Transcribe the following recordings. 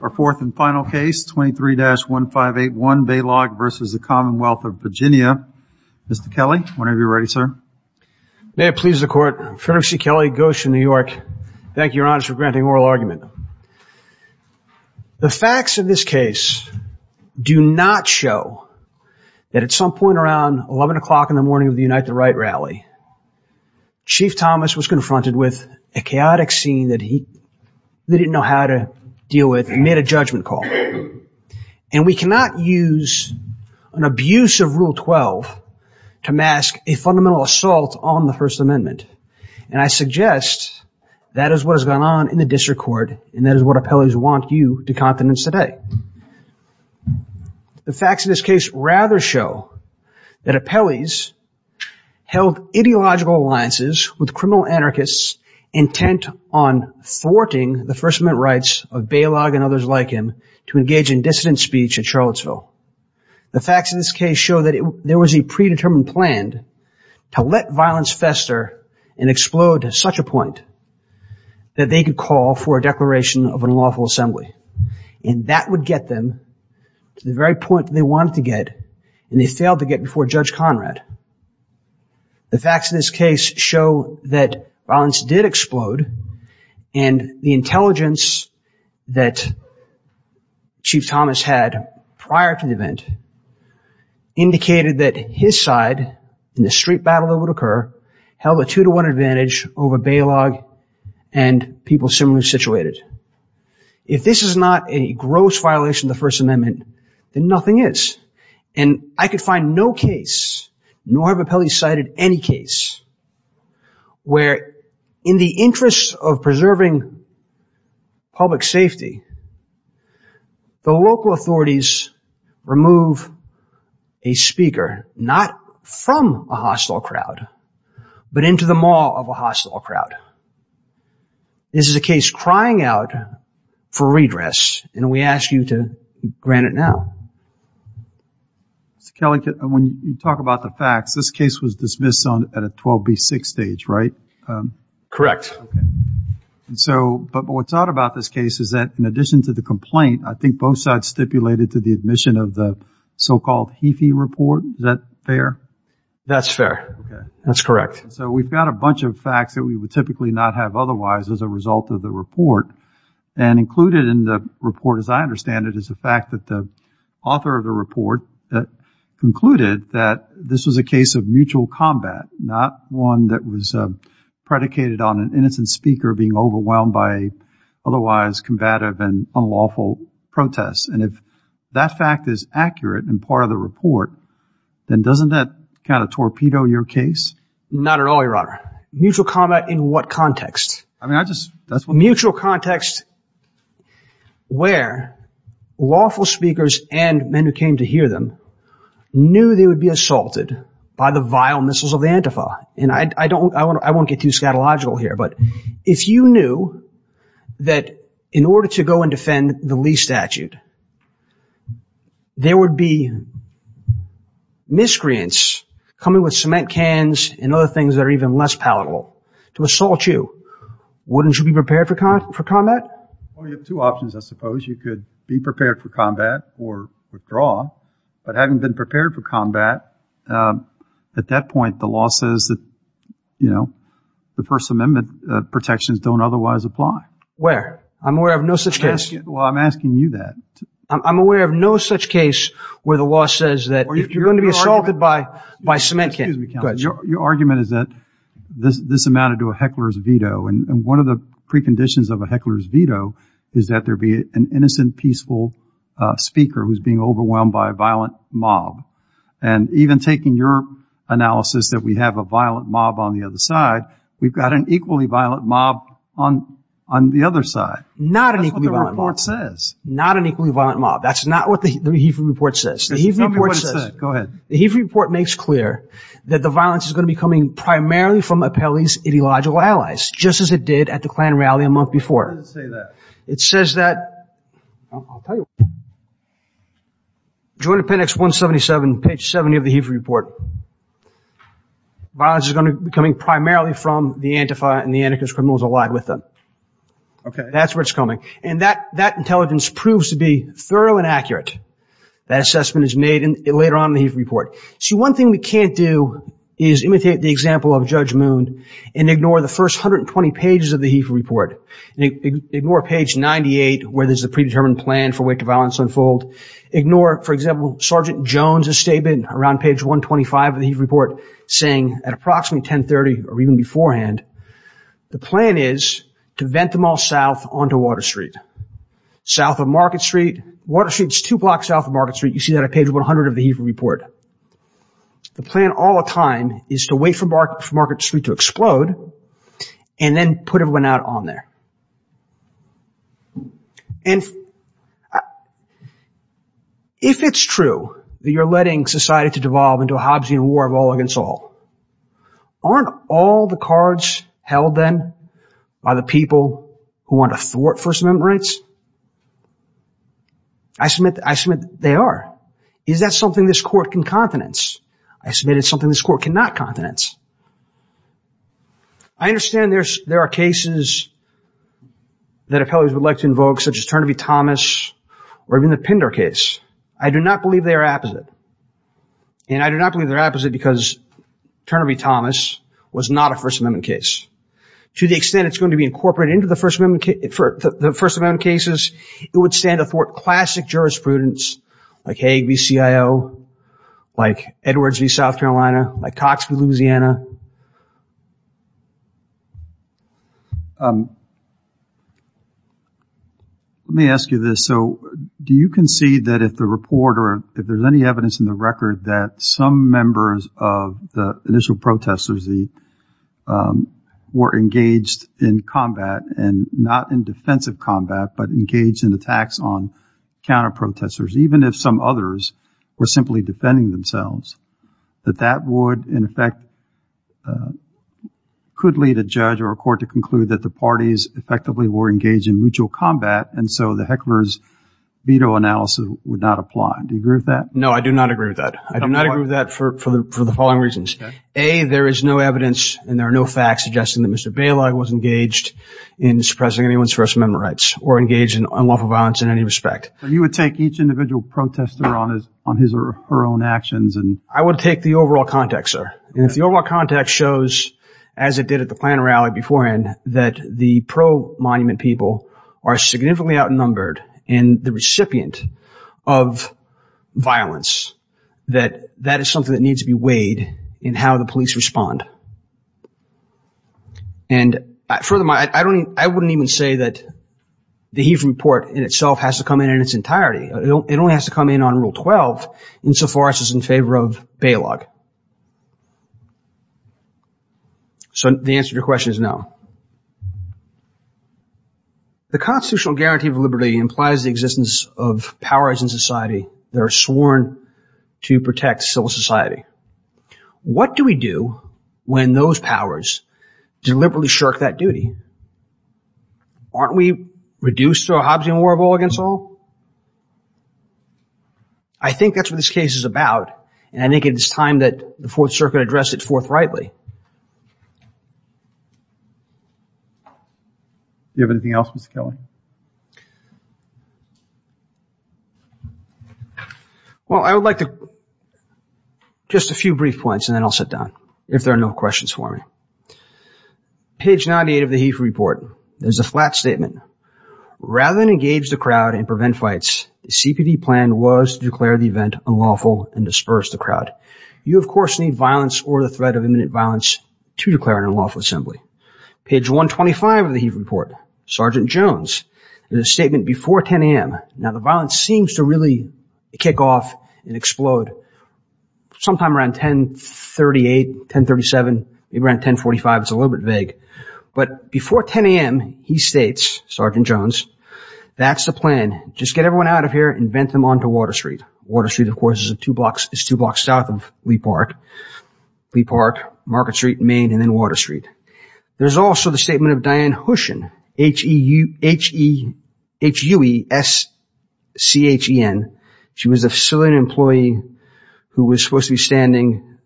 Our fourth and final case, 23-1581 Balogh v. Commonwealth of Virginia. Mr. Kelly, whenever you're ready, sir. May it please the Court. Fairness C. Kelly, Goshen, New York. Thank you, Your Honor, for granting oral argument. The facts of this case do not show that at some point around 11 o'clock in the morning of the Unite the Right rally, Chief Thomas was confronted with a chaotic scene that he didn't know how to deal with and made a judgment call. And we cannot use an abuse of Rule 12 to mask a fundamental assault on the First Amendment. And I suggest that is what has gone on in the district court and that is what appellees want you to confidence today. The facts of this case rather show that appellees held ideological alliances with criminal anarchists intent on thwarting the First Amendment rights of Balogh and others like him to engage in dissident speech at Charlottesville. The facts of this case show that there was a predetermined plan to let violence fester and explode to such a point that they could call for a declaration of an unlawful assembly. And that would get them to the very point they wanted to get and they failed to get before Judge Conrad. The facts of this case show that violence did explode and the intelligence that Chief Thomas had prior to the event indicated that his side in the street battle that would occur held a two to one advantage over Balogh and people similarly situated. If this is not a gross violation of the First Amendment, then nothing is. And I could find no case, nor have appellees cited any case, where in the interest of preserving public safety, the local authorities remove a speaker, not from a hostile crowd, but into the maw of a hostile crowd. This is a case crying out for redress and we ask you to grant it now. Mr. Kelly, when you talk about the facts, this case was dismissed at a 12B6 stage, right? Correct. Okay. And so, but what's odd about this case is that in addition to the complaint, I think both sides stipulated to the admission of the so-called HEFI report. Is that fair? That's fair. Okay. That's correct. So we've got a bunch of facts that we would typically not have otherwise as a result of the report. And included in the report, as I understand it, is the fact that the author of the report concluded that this was a case of mutual combat, not one that was predicated on an innocent speaker being overwhelmed by otherwise combative and unlawful protests. And if that fact is accurate and part of the report, then doesn't that kind of torpedo your case? Not at all, Your Honor. Mutual combat in what context? I mean, I just, that's what- Mutual context where lawful speakers and men who came to hear them knew they would be assaulted by the vile missiles of the Antifa. And I won't get too scatological here, but if you knew that in order to go and defend the Lee statute, there would be miscreants coming with cement cans and other things that are even less palatable to assault you, wouldn't you be prepared for combat? Well, you have two options, I suppose. You could be prepared for combat or withdraw, but having been prepared for combat, at that point the law says that, you know, the First Amendment protections don't otherwise apply. Where? I'm aware of no such case. Well, I'm asking you that. I'm aware of no such case where the law says that if you're going to be assaulted by cement cans- speaker who's being overwhelmed by a violent mob. And even taking your analysis that we have a violent mob on the other side, we've got an equally violent mob on the other side. Not an equally violent mob. That's what the report says. Not an equally violent mob. That's not what the HEAF report says. Tell me what it says. Go ahead. The HEAF report makes clear that the violence is going to be coming primarily from Appelli's ideological allies, just as it did at the Klan rally a month before. It doesn't say that. It says that- I'll tell you what it says. Joint appendix 177, page 70 of the HEAF report. Violence is going to be coming primarily from the Antifa and the anarchist criminals allied with them. Okay. That's where it's coming. And that intelligence proves to be thorough and accurate. That assessment is made later on in the HEAF report. See, one thing we can't do is imitate the example of Judge Moon and ignore the first 120 pages of the HEAF report. Ignore page 98 where there's a predetermined plan for where the violence will unfold. Ignore, for example, Sergeant Jones' statement around page 125 of the HEAF report saying, at approximately 1030 or even beforehand, the plan is to vent them all south onto Water Street. South of Market Street. Water Street's two blocks south of Market Street. You see that on page 100 of the HEAF report. The plan all the time is to wait for Market Street to explode and then put everyone out on there. And if it's true that you're letting society to devolve into a Hobbesian war of all against all, aren't all the cards held then by the people who want to thwart First Amendment rights? I submit they are. Is that something this court can confidence? I submit it's something this court cannot confidence. I understand there are cases that appellees would like to invoke, such as Turner v. Thomas or even the Pinder case. I do not believe they are opposite. And I do not believe they're opposite because Turner v. Thomas was not a First Amendment case. To the extent it's going to be incorporated into the First Amendment cases, it would stand to thwart classic jurisprudence like Hague v. CIO, like Edwards v. South Carolina, like Cox v. Louisiana. Let me ask you this. So do you concede that if the report or if there's any evidence in the record that some members of the initial protesters were engaged in combat and not in defensive combat, but engaged in attacks on counter protesters, even if some others were simply defending themselves, that that would, in effect, could lead a judge or a court to conclude that the parties effectively were engaged in mutual combat. And so the hecklers veto analysis would not apply. Do you agree with that? No, I do not agree with that. I do not agree with that for the following reasons. A, there is no evidence and there are no facts suggesting that Mr. Bailar was engaged in suppressing anyone's First Amendment rights or engaged in unlawful violence in any respect. And you would take each individual protester on his or her own actions? I would take the overall context, sir. And if the overall context shows, as it did at the Plano rally beforehand, that the pro-monument people are significantly outnumbered and the recipient of violence, that that is something that needs to be weighed in how the police respond. And furthermore, I wouldn't even say that the Heath report in itself has to come in in its entirety. It only has to come in on Rule 12 insofar as it's in favor of bailogue. So the answer to your question is no. The constitutional guarantee of liberty implies the existence of powers in society that are sworn to protect civil society. What do we do when those powers deliberately shirk that duty? Aren't we reduced to a Hobbesian war of all against all? I think that's what this case is about. And I think it is time that the Fourth Circuit addressed it forthrightly. Do you have anything else, Mr. Kelly? Well, I would like to just a few brief points and then I'll sit down if there are no questions for me. Page 98 of the Heath report, there's a flat statement. Rather than engage the crowd and prevent fights, the CPD plan was to declare the event unlawful and disperse the crowd. You, of course, need violence or the threat of imminent violence to declare an unlawful assembly. Page 125 of the Heath report, Sergeant Jones, there's a statement before 10 a.m. Now, the violence seems to really kick off and explode sometime around 1038, 1037, maybe around 1045. It's a little bit vague. But before 10 a.m., he states, Sergeant Jones, that's the plan. Just get everyone out of here and vent them onto Water Street. Water Street, of course, is two blocks south of Leap Park. Leap Park, Market Street, Main, and then Water Street. There's also the statement of Diane Hushon, H-U-E-S-C-H-E-N. She was a facility employee who was supposed to be standing,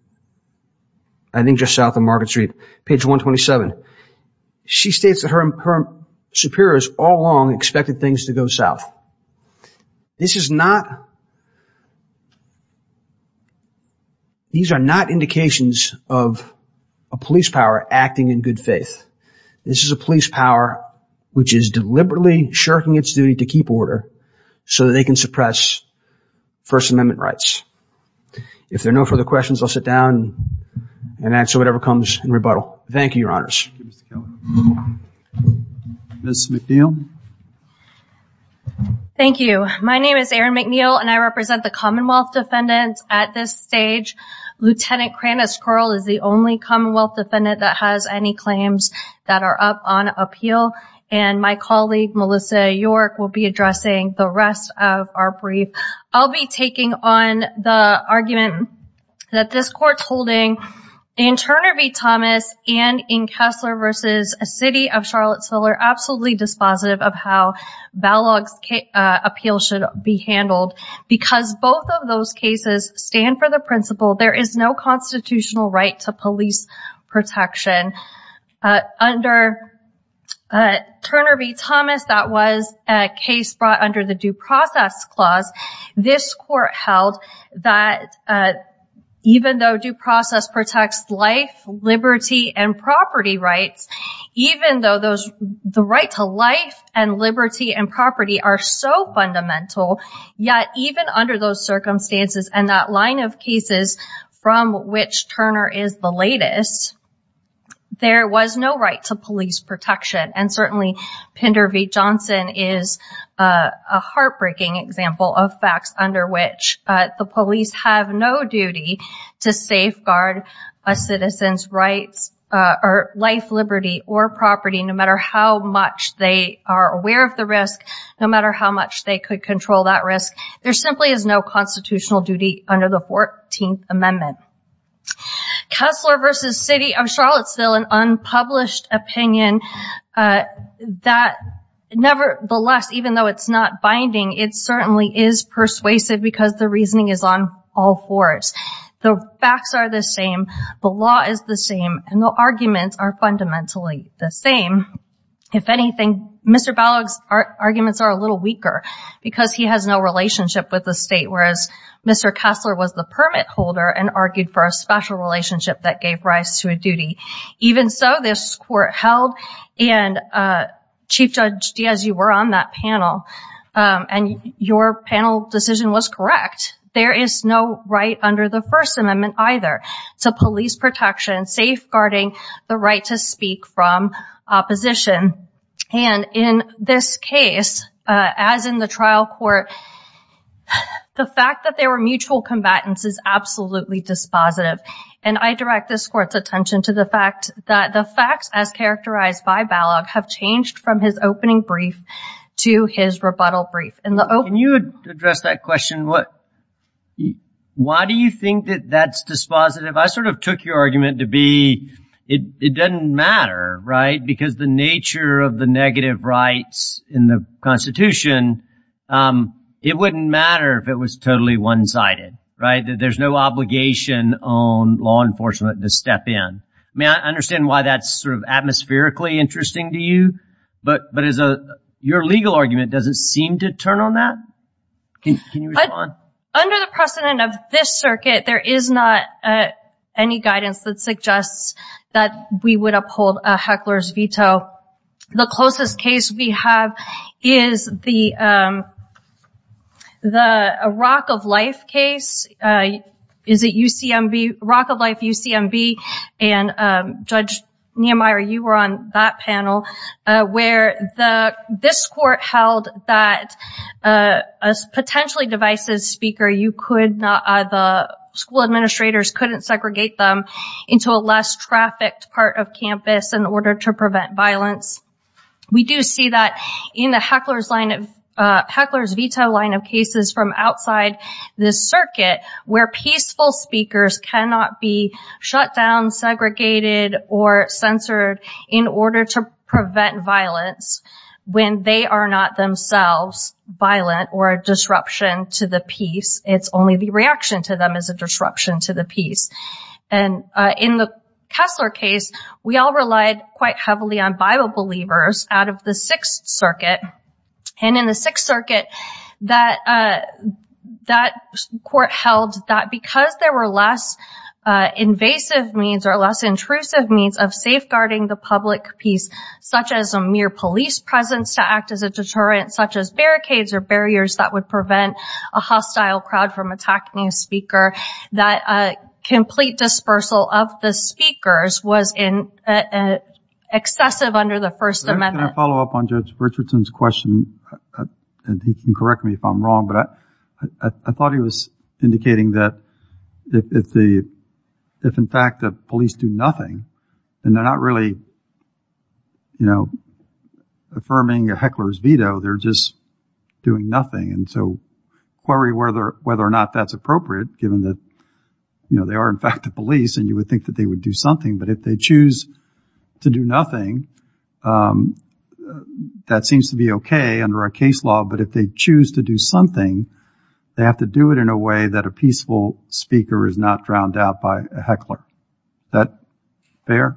I think, just south of Market Street. Page 127. She states that her superiors all along expected things to go south. This is not, these are not indications of a police power acting in good faith. This is a police power which is deliberately shirking its duty to keep order so that they can suppress First Amendment rights. If there are no further questions, I'll sit down and answer whatever comes in rebuttal. Thank you, Your Honors. Thank you, Mr. Keller. Ms. McNeil. Thank you. My name is Erin McNeil, and I represent the Commonwealth Defendants at this stage. Lieutenant Krannis Curl is the only Commonwealth Defendant that has any claims that are up on appeal. And my colleague, Melissa York, will be addressing the rest of our brief. I'll be taking on the argument that this Court's holding in Turner v. Thomas and in Kessler v. City of Charlottesville are absolutely dispositive of how Balogh's appeal should be handled because both of those cases stand for the principle there is no constitutional right to police protection. Under Turner v. Thomas, that was a case brought under the Due Process Clause. This Court held that even though due process protects life, liberty, and property rights, even though the right to life and liberty and property are so fundamental, yet even under those circumstances and that line of cases from which Turner is the latest, there was no right to police protection. And certainly Pinder v. Johnson is a heartbreaking example of facts under which the police have no duty to safeguard a citizen's rights or life, liberty, or property no matter how much they are aware of the risk, no matter how much they could control that risk. There simply is no constitutional duty under the 14th Amendment. Kessler v. City of Charlottesville, an unpublished opinion that nevertheless, even though it's not binding, it certainly is persuasive because the reasoning is on all fours. The facts are the same, the law is the same, and the arguments are fundamentally the same. If anything, Mr. Balogh's arguments are a little weaker because he has no relationship with the state, whereas Mr. Kessler was the permit holder and argued for a special relationship that gave rise to a duty. Even so, this court held, and Chief Judge Diaz, you were on that panel, and your panel decision was correct. There is no right under the First Amendment either to police protection, safeguarding the right to speak from opposition. In this case, as in the trial court, the fact that they were mutual combatants is absolutely dispositive. I direct this court's attention to the fact that the facts, as characterized by Balogh, have changed from his opening brief to his rebuttal brief. Can you address that question? Why do you think that that's dispositive? I sort of took your argument to be it doesn't matter, right? Because the nature of the negative rights in the Constitution, it wouldn't matter if it was totally one-sided, right? There's no obligation on law enforcement to step in. I mean, I understand why that's sort of atmospherically interesting to you, but your legal argument doesn't seem to turn on that. Can you respond? Under the precedent of this circuit, there is not any guidance that suggests that we would uphold a heckler's veto. The closest case we have is the Rock of Life case. Is it UCMB? Rock of Life, UCMB. And Judge Nehemiah, you were on that panel, where this court held that a potentially divisive speaker, the school administrators couldn't segregate them into a less-trafficked part of campus in order to prevent violence. We do see that in the heckler's veto line of cases from outside this circuit, where peaceful speakers cannot be shut down, segregated, or censored in order to prevent violence when they are not themselves violent or a disruption to the peace. It's only the reaction to them as a disruption to the peace. And in the Kessler case, we all relied quite heavily on Bible believers out of the Sixth Circuit. And in the Sixth Circuit, that court held that because there were less invasive means or less intrusive means of safeguarding the public peace, such as a mere police presence to act as a deterrent, such as barricades or barriers that would prevent a hostile crowd from attacking a speaker, that complete dispersal of the speakers was excessive under the First Amendment. Can I follow up on Judge Richardson's question? And he can correct me if I'm wrong, but I thought he was indicating that if, in fact, the police do nothing, and they're not really, you know, affirming a heckler's veto, they're just doing nothing. And so query whether or not that's appropriate, given that, you know, they are, in fact, the police, and you would think that they would do something. But if they choose to do nothing, that seems to be OK under our case law. But if they choose to do something, they have to do it in a way that a peaceful speaker is not drowned out by a heckler. Is that fair?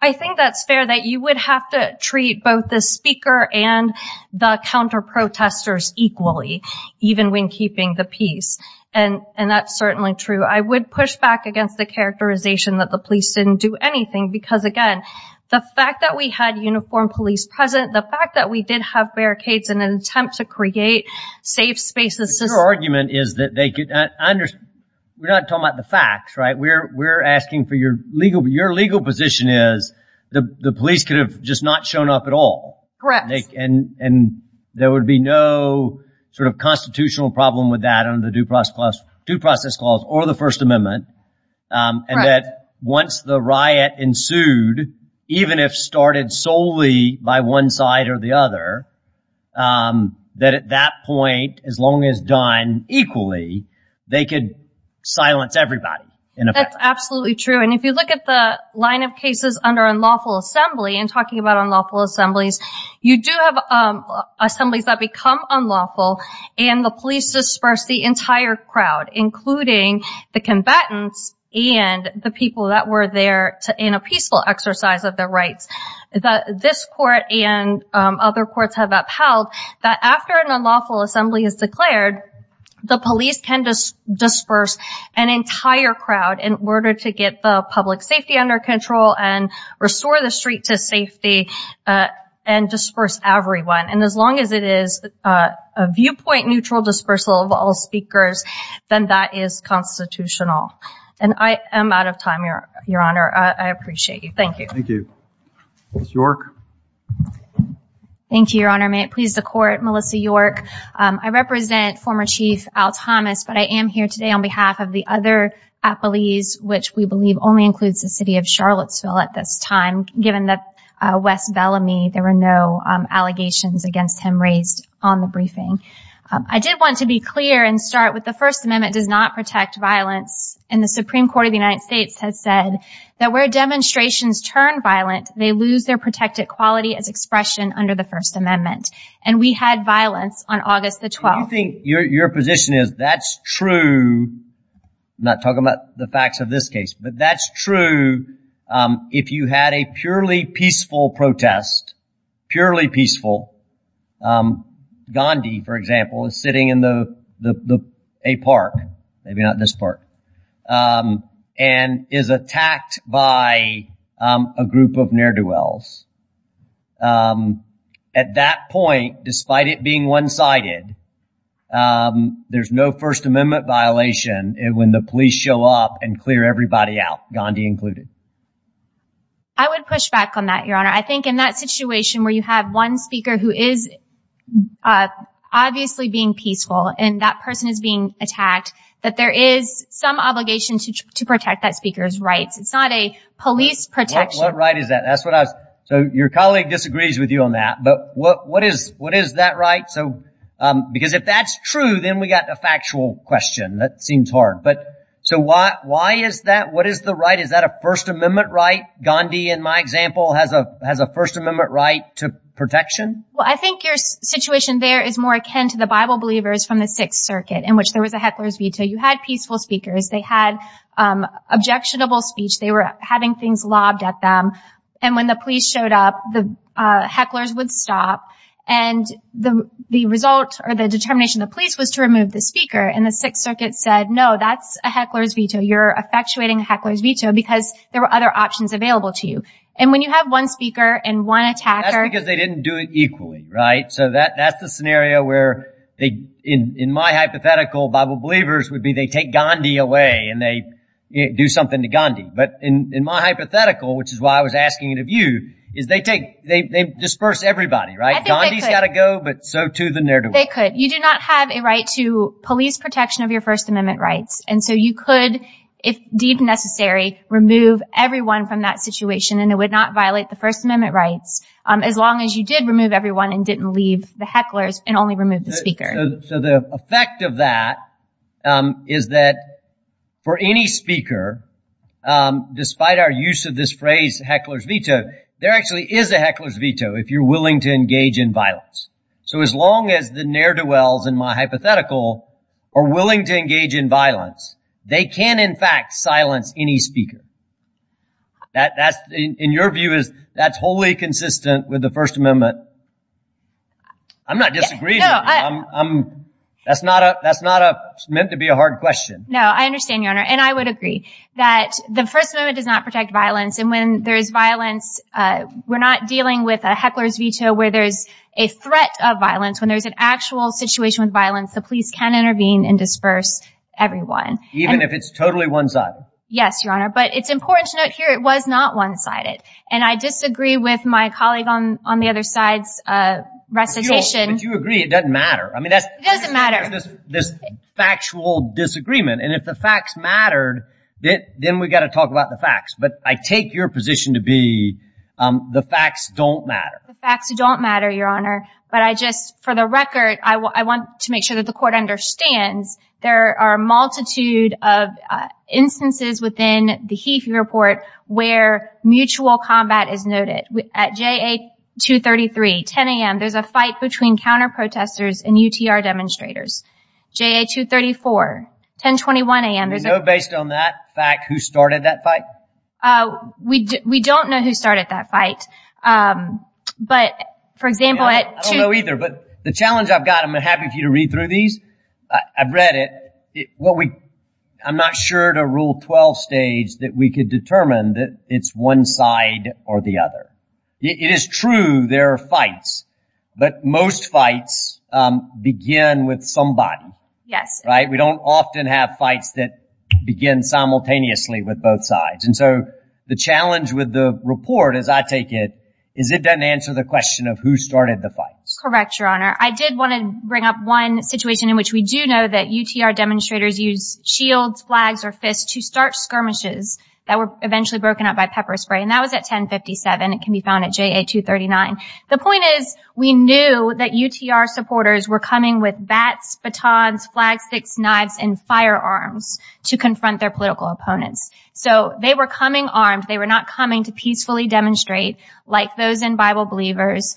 I think that's fair, that you would have to treat both the speaker and the counterprotesters equally, even when keeping the peace. And that's certainly true. I would push back against the characterization that the police didn't do anything because, again, the fact that we had uniformed police present, the fact that we did have barricades in an attempt to create safe spaces. Your argument is that they could understand. We're not talking about the facts, right? We're asking for your legal position is the police could have just not shown up at all. Correct. And there would be no sort of constitutional problem with that under the due process clause or the First Amendment. And that once the riot ensued, even if started solely by one side or the other, that at that point, as long as done equally, they could silence everybody. That's absolutely true. And if you look at the line of cases under unlawful assembly and talking about unlawful assemblies, you do have assemblies that become unlawful and the police disperse the entire crowd, including the combatants and the people that were there in a peaceful exercise of their rights. This court and other courts have upheld that after an unlawful assembly is declared, the police can just disperse an entire crowd in order to get the public safety under control and restore the street to safety and disperse everyone. And as long as it is a viewpoint neutral dispersal of all speakers, then that is constitutional. And I am out of time, Your Honor. I appreciate you. Thank you. Thank you. Ms. York. Thank you, Your Honor. May it please the court. Melissa York. I represent former Chief Al Thomas, but I am here today on behalf of the other appellees, which we believe only includes the city of Charlottesville at this time. Given the West Bellamy, there were no allegations against him raised on the briefing. I did want to be clear and start with the First Amendment does not protect violence. And the Supreme Court of the United States has said that where demonstrations turn violent, they lose their protected quality as expression under the First Amendment. And we had violence on August the 12th. Do you think your position is that's true, not talking about the facts of this case, but that's true if you had a purely peaceful protest, purely peaceful. Gandhi, for example, is sitting in a park, maybe not this park, and is attacked by a group of ne'er-do-wells. At that point, despite it being one-sided, there's no First Amendment violation when the police show up and clear everybody out, Gandhi included. I would push back on that, Your Honor. I think in that situation where you have one speaker who is obviously being peaceful and that person is being attacked, that there is some obligation to protect that speaker's rights. It's not a police protection. What right is that? Your colleague disagrees with you on that. But what is that right? Because if that's true, then we've got a factual question. That seems hard. So why is that? What is the right? Is that a First Amendment right? Gandhi, in my example, has a First Amendment right to protection? Well, I think your situation there is more akin to the Bible believers from the Sixth Circuit, in which there was a heckler's veto. You had peaceful speakers. They had objectionable speech. They were having things lobbed at them. And when the police showed up, the hecklers would stop. And the result or the determination of the police was to remove the speaker. And the Sixth Circuit said, no, that's a heckler's veto. You're effectuating a heckler's veto because there were other options available to you. And when you have one speaker and one attacker. That's because they didn't do it equally, right? So that's the scenario where in my hypothetical, Bible believers would be they take Gandhi away and they do something to Gandhi. But in my hypothetical, which is why I was asking it of you, is they take, they disperse everybody, right? Gandhi's got to go, but so too the ne'er-do-well. They could. You do not have a right to police protection of your First Amendment rights. And so you could, if deemed necessary, remove everyone from that situation. And it would not violate the First Amendment rights as long as you did remove everyone and didn't leave the hecklers and only removed the speaker. So the effect of that is that for any speaker, despite our use of this phrase heckler's veto, there actually is a heckler's veto if you're willing to engage in violence. So as long as the ne'er-do-wells in my hypothetical are willing to engage in violence, they can, in fact, silence any speaker. That's, in your view, that's wholly consistent with the First Amendment. I'm not disagreeing with you. That's not meant to be a hard question. No, I understand, Your Honor. And I would agree that the First Amendment does not protect violence. And when there is violence, we're not dealing with a heckler's veto where there's a threat of violence. When there's an actual situation with violence, the police can intervene and disperse everyone. Even if it's totally one-sided? Yes, Your Honor. But it's important to note here it was not one-sided. And I disagree with my colleague on the other side's recitation. But you agree it doesn't matter. It doesn't matter. There's this factual disagreement. And if the facts mattered, then we've got to talk about the facts. But I take your position to be the facts don't matter. The facts don't matter, Your Honor. But I just, for the record, I want to make sure that the Court understands there are a multitude of instances within the HEFI report where mutual combat is noted. At JA-233, 10 a.m., there's a fight between counter-protesters and UTR demonstrators. JA-234, 1021 a.m. Do you know, based on that fact, who started that fight? We don't know who started that fight. But, for example, at 2- I don't know either. But the challenge I've got, I'm happy for you to read through these. I've read it. I'm not sure to Rule 12 stage that we could determine that it's one side or the other. It is true there are fights, but most fights begin with somebody. Yes. Right? We don't often have fights that begin simultaneously with both sides. And so the challenge with the report, as I take it, is it doesn't answer the question of who started the fight. Correct, Your Honor. I did want to bring up one situation in which we do know that UTR demonstrators use shields, flags, or fists to start skirmishes that were eventually broken up by pepper spray, and that was at 10-57. It can be found at JA-239. The point is we knew that UTR supporters were coming with bats, batons, flagsticks, knives, and firearms to confront their political opponents. So they were coming armed. They were not coming to peacefully demonstrate like those in Bible Believers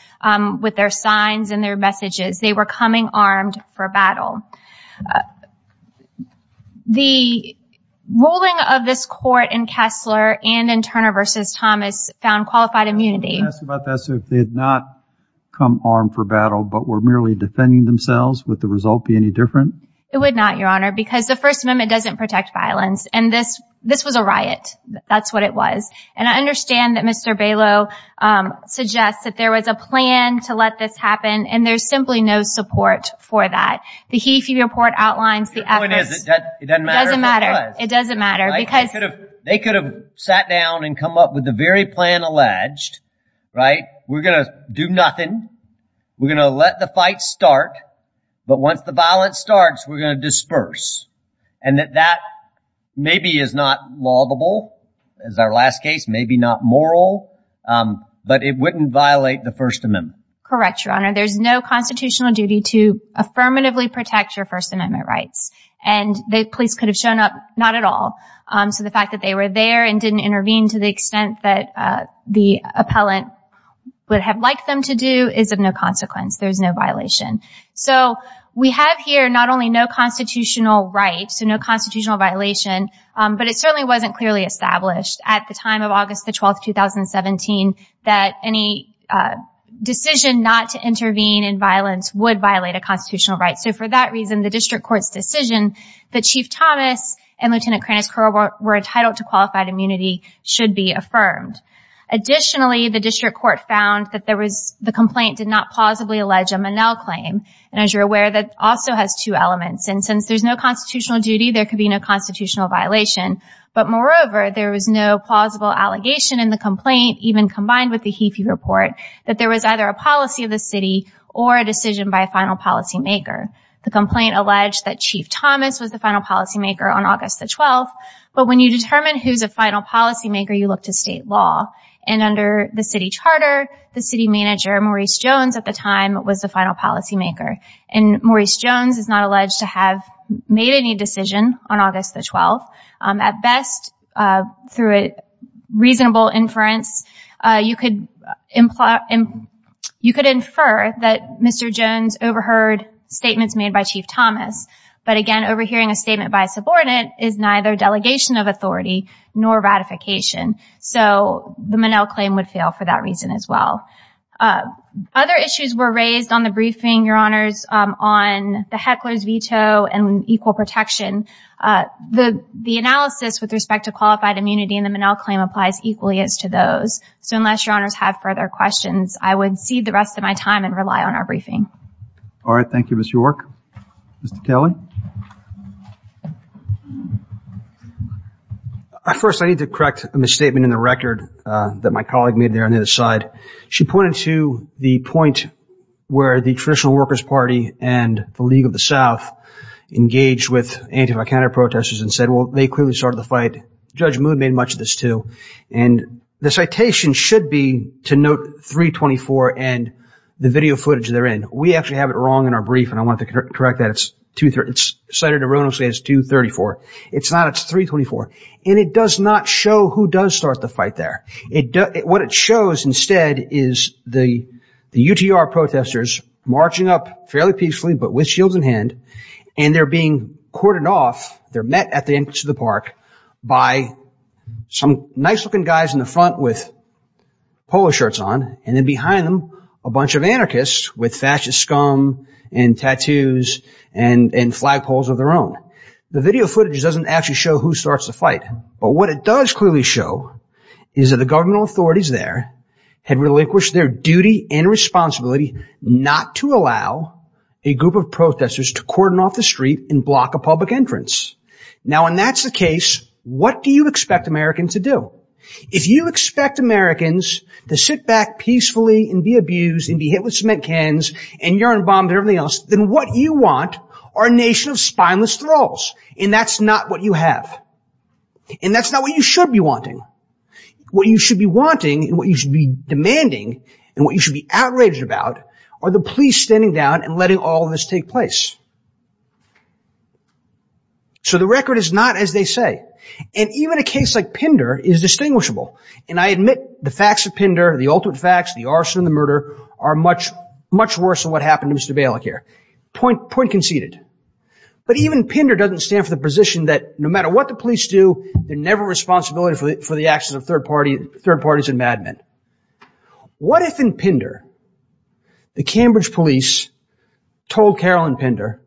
with their signs and their messages. They were coming armed for battle. The ruling of this court in Kessler and in Turner v. Thomas found qualified immunity. Can I ask about this? If they had not come armed for battle but were merely defending themselves, would the result be any different? It would not, Your Honor, because the First Amendment doesn't protect violence. And this was a riot. That's what it was. And I understand that Mr. Balow suggests that there was a plan to let this happen, and there's simply no support for that. The HEFE report outlines the efforts. Your point is it doesn't matter if it was. It doesn't matter. They could have sat down and come up with the very plan alleged, right? We're going to do nothing. We're going to let the fight start. But once the violence starts, we're going to disperse. And that maybe is not laudable, as our last case, maybe not moral, but it wouldn't violate the First Amendment. Correct, Your Honor. There's no constitutional duty to affirmatively protect your First Amendment rights. And the police could have shown up. Not at all. So the fact that they were there and didn't intervene to the extent that the appellant would have liked them to do is of no consequence. There's no violation. So we have here not only no constitutional right, so no constitutional violation, but it certainly wasn't clearly established at the time of August 12, 2017, that any decision not to intervene in violence would violate a constitutional right. So for that reason, the district court's decision that Chief Thomas and Lieutenant Kranitz-Curl were entitled to qualified immunity should be affirmed. Additionally, the district court found that the complaint did not plausibly allege a Monell claim. And as you're aware, that also has two elements. And since there's no constitutional duty, there could be no constitutional violation. But moreover, there was no plausible allegation in the complaint, even combined with the Heafey report, that there was either a policy of the city or a decision by a final policymaker. The complaint alleged that Chief Thomas was the final policymaker on August 12. But when you determine who's a final policymaker, you look to state law. And under the city charter, the city manager, Maurice Jones, at the time, was the final policymaker. And Maurice Jones is not alleged to have made any decision on August 12. At best, through a reasonable inference, you could infer that Mr. Jones overheard statements made by Chief Thomas. But again, overhearing a statement by a subordinate is neither delegation of authority nor ratification. So the Monell claim would fail for that reason as well. Other issues were raised on the briefing, Your Honors, on the heckler's veto and equal protection. The analysis with respect to qualified immunity in the Monell claim applies equally as to those. So unless Your Honors have further questions, I would cede the rest of my time and rely on our briefing. All right. Thank you, Mr. York. Mr. Kelly. First, I need to correct a misstatement in the record that my colleague made there on the other side. She pointed to the point where the Traditional Workers Party and the League of the South engaged with anti-vicariate protesters and said, well, they clearly started the fight. Judge Moon made much of this too. And the citation should be to note 324 and the video footage therein. We actually have it wrong in our brief, and I want to correct that. It's cited erroneously as 234. It's not. It's 324. And it does not show who does start the fight there. What it shows instead is the UTR protesters marching up fairly peacefully but with shields in hand. And they're being courted off. They're met at the entrance of the park by some nice-looking guys in the front with polo shirts on. And then behind them, a bunch of anarchists with fascist scum and tattoos and flagpoles of their own. The video footage doesn't actually show who starts the fight. But what it does clearly show is that the governmental authorities there had relinquished their duty and responsibility not to allow a group of protesters to court them off the street and block a public entrance. Now, when that's the case, what do you expect Americans to do? If you expect Americans to sit back peacefully and be abused and be hit with cement cans and urine bombs and everything else, then what you want are a nation of spineless trolls. And that's not what you have. And that's not what you should be wanting. What you should be wanting and what you should be demanding and what you should be outraged about are the police standing down and letting all of this take place. So the record is not as they say. And even a case like Pinder is distinguishable. And I admit the facts of Pinder, the ultimate facts, the arson, the murder, are much, much worse than what happened to Mr. Balic here. Point conceded. But even Pinder doesn't stand for the position that no matter what the police do, they're never responsible for the actions of third parties and madmen. What if, in Pinder, the Cambridge police told Carolyn Pinder,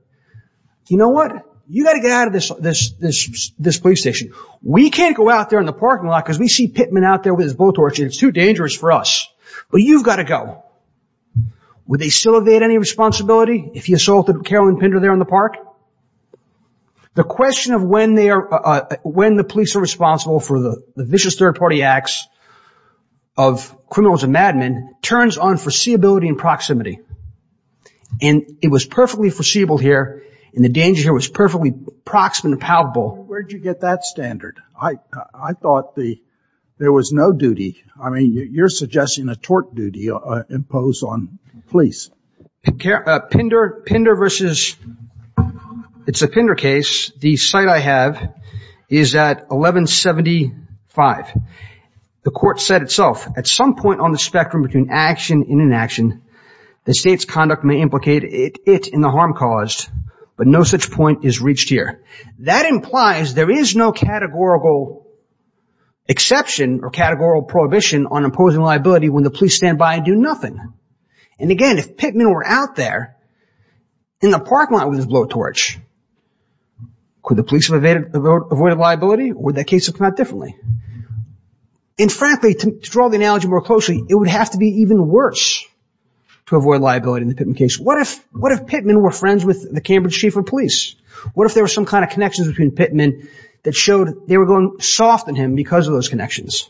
you know what, you've got to get out of this police station. We can't go out there in the parking lot because we see Pittman out there with his bull torch and it's too dangerous for us. But you've got to go. Would they still have had any responsibility? If you assaulted Carolyn Pinder there in the park? The question of when the police are responsible for the vicious third-party acts of criminals and madmen turns on foreseeability and proximity. And it was perfectly foreseeable here and the danger here was perfectly proximate and palpable. Where did you get that standard? I thought there was no duty. I mean, you're suggesting a tort duty imposed on police. Pinder versus, it's a Pinder case. The site I have is at 1175. The court said itself, at some point on the spectrum between action and inaction, the state's conduct may implicate it in the harm caused, but no such point is reached here. That implies there is no categorical exception or categorical prohibition on imposing liability when the police stand by and do nothing. And again, if Pittman were out there, in the parking lot with his bull torch, could the police have avoided liability or would that case have come out differently? And frankly, to draw the analogy more closely, it would have to be even worse to avoid liability in the Pittman case. What if Pittman were friends with the Cambridge chief of police? What if there were some kind of connections between Pittman that showed they were going soft on him because of those connections?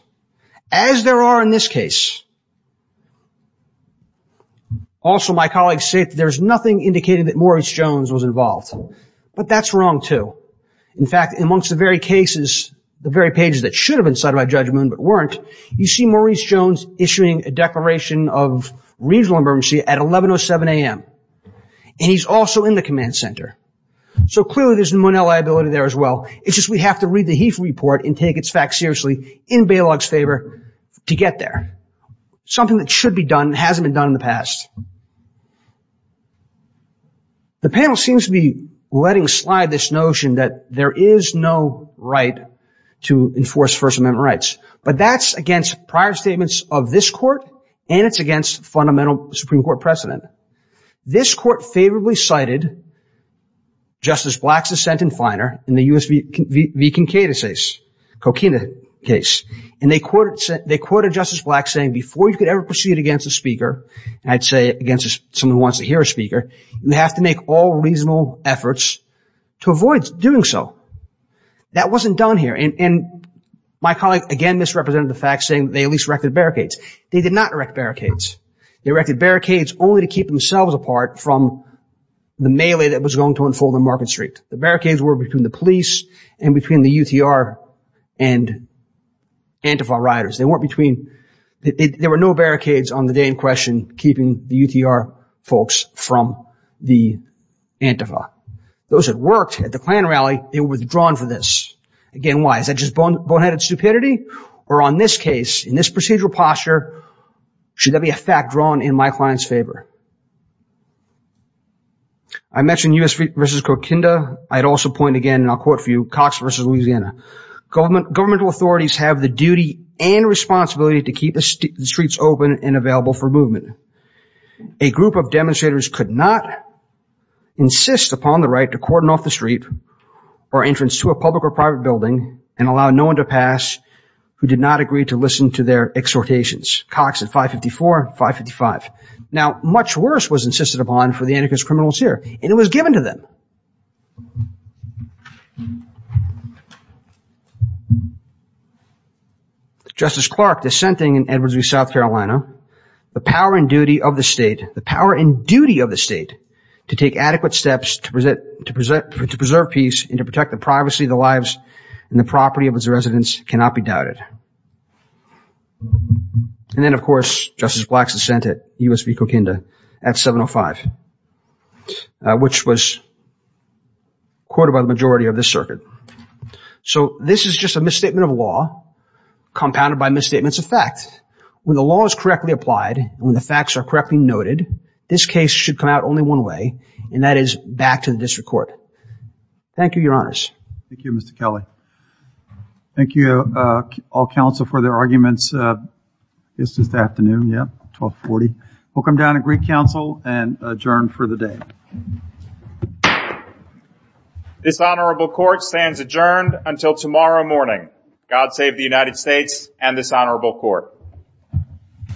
As there are in this case, also my colleagues say there's nothing indicating that Maurice Jones was involved, but that's wrong too. In fact, amongst the very cases, the very pages that should have been cited by judgment but weren't, you see Maurice Jones issuing a declaration of regional emergency at 1107 a.m. And he's also in the command center. So clearly there's no liability there as well. It's just we have to read the Heath report and take its facts seriously in bailout's favor to get there. Something that should be done, hasn't been done in the past. The panel seems to be letting slide this notion that there is no right to enforce First Amendment rights. But that's against prior statements of this court and it's against fundamental Supreme Court precedent. This court favorably cited Justice Black's assent in Finer in the U.S. v. Kinkadesis, Coquina case. And they quoted Justice Black saying before you could ever proceed against a speaker, I'd say against someone who wants to hear a speaker, you have to make all reasonable efforts to avoid doing so. That wasn't done here. And my colleague again misrepresented the fact saying they at least erected barricades. They did not erect barricades. They erected barricades only to keep themselves apart from the melee that was going to unfold on Market Street. The barricades were between the police and between the UTR and Antifa rioters. They weren't between, there were no barricades on the day in question keeping the UTR folks from the Antifa. Those that worked at the Klan rally, they were withdrawn for this. Again, why? Is that just boneheaded stupidity? Or on this case, in this procedural posture, should that be a fact drawn in my client's favor? I mentioned U.S. v. Coquinda. I'd also point again, and I'll quote for you, Cox v. Louisiana. Government, governmental authorities have the duty and responsibility to keep the streets open and available for movement. A group of demonstrators could not insist upon the right to cordon off the street or entrance to a public or private building and allow no one to pass who did not agree to listen to their exhortations. Cox at 554, 555. Now, much worse was insisted upon for the Antifa's criminals here, and it was given to them. Justice Clark dissenting in Edwards v. South Carolina, the power and duty of the state, the power and duty of the state to take adequate steps to preserve peace and to protect the privacy of the lives and the property of its residents cannot be doubted. And then, of course, Justice Black's dissent at U.S. v. Coquinda at 705, which was quoted by the majority of this circuit. So this is just a misstatement of law compounded by misstatements of fact. When the law is correctly applied, when the facts are correctly noted, this case should come out only one way, and that is back to the district court. Thank you, your honors. Thank you, Mr. Kelly. Thank you, all counsel for their arguments. It's just afternoon, yeah, 1240. We'll come down to Greek Council and adjourn for the day. This honorable court stands adjourned until tomorrow morning. God save the United States and this honorable court. Thank you.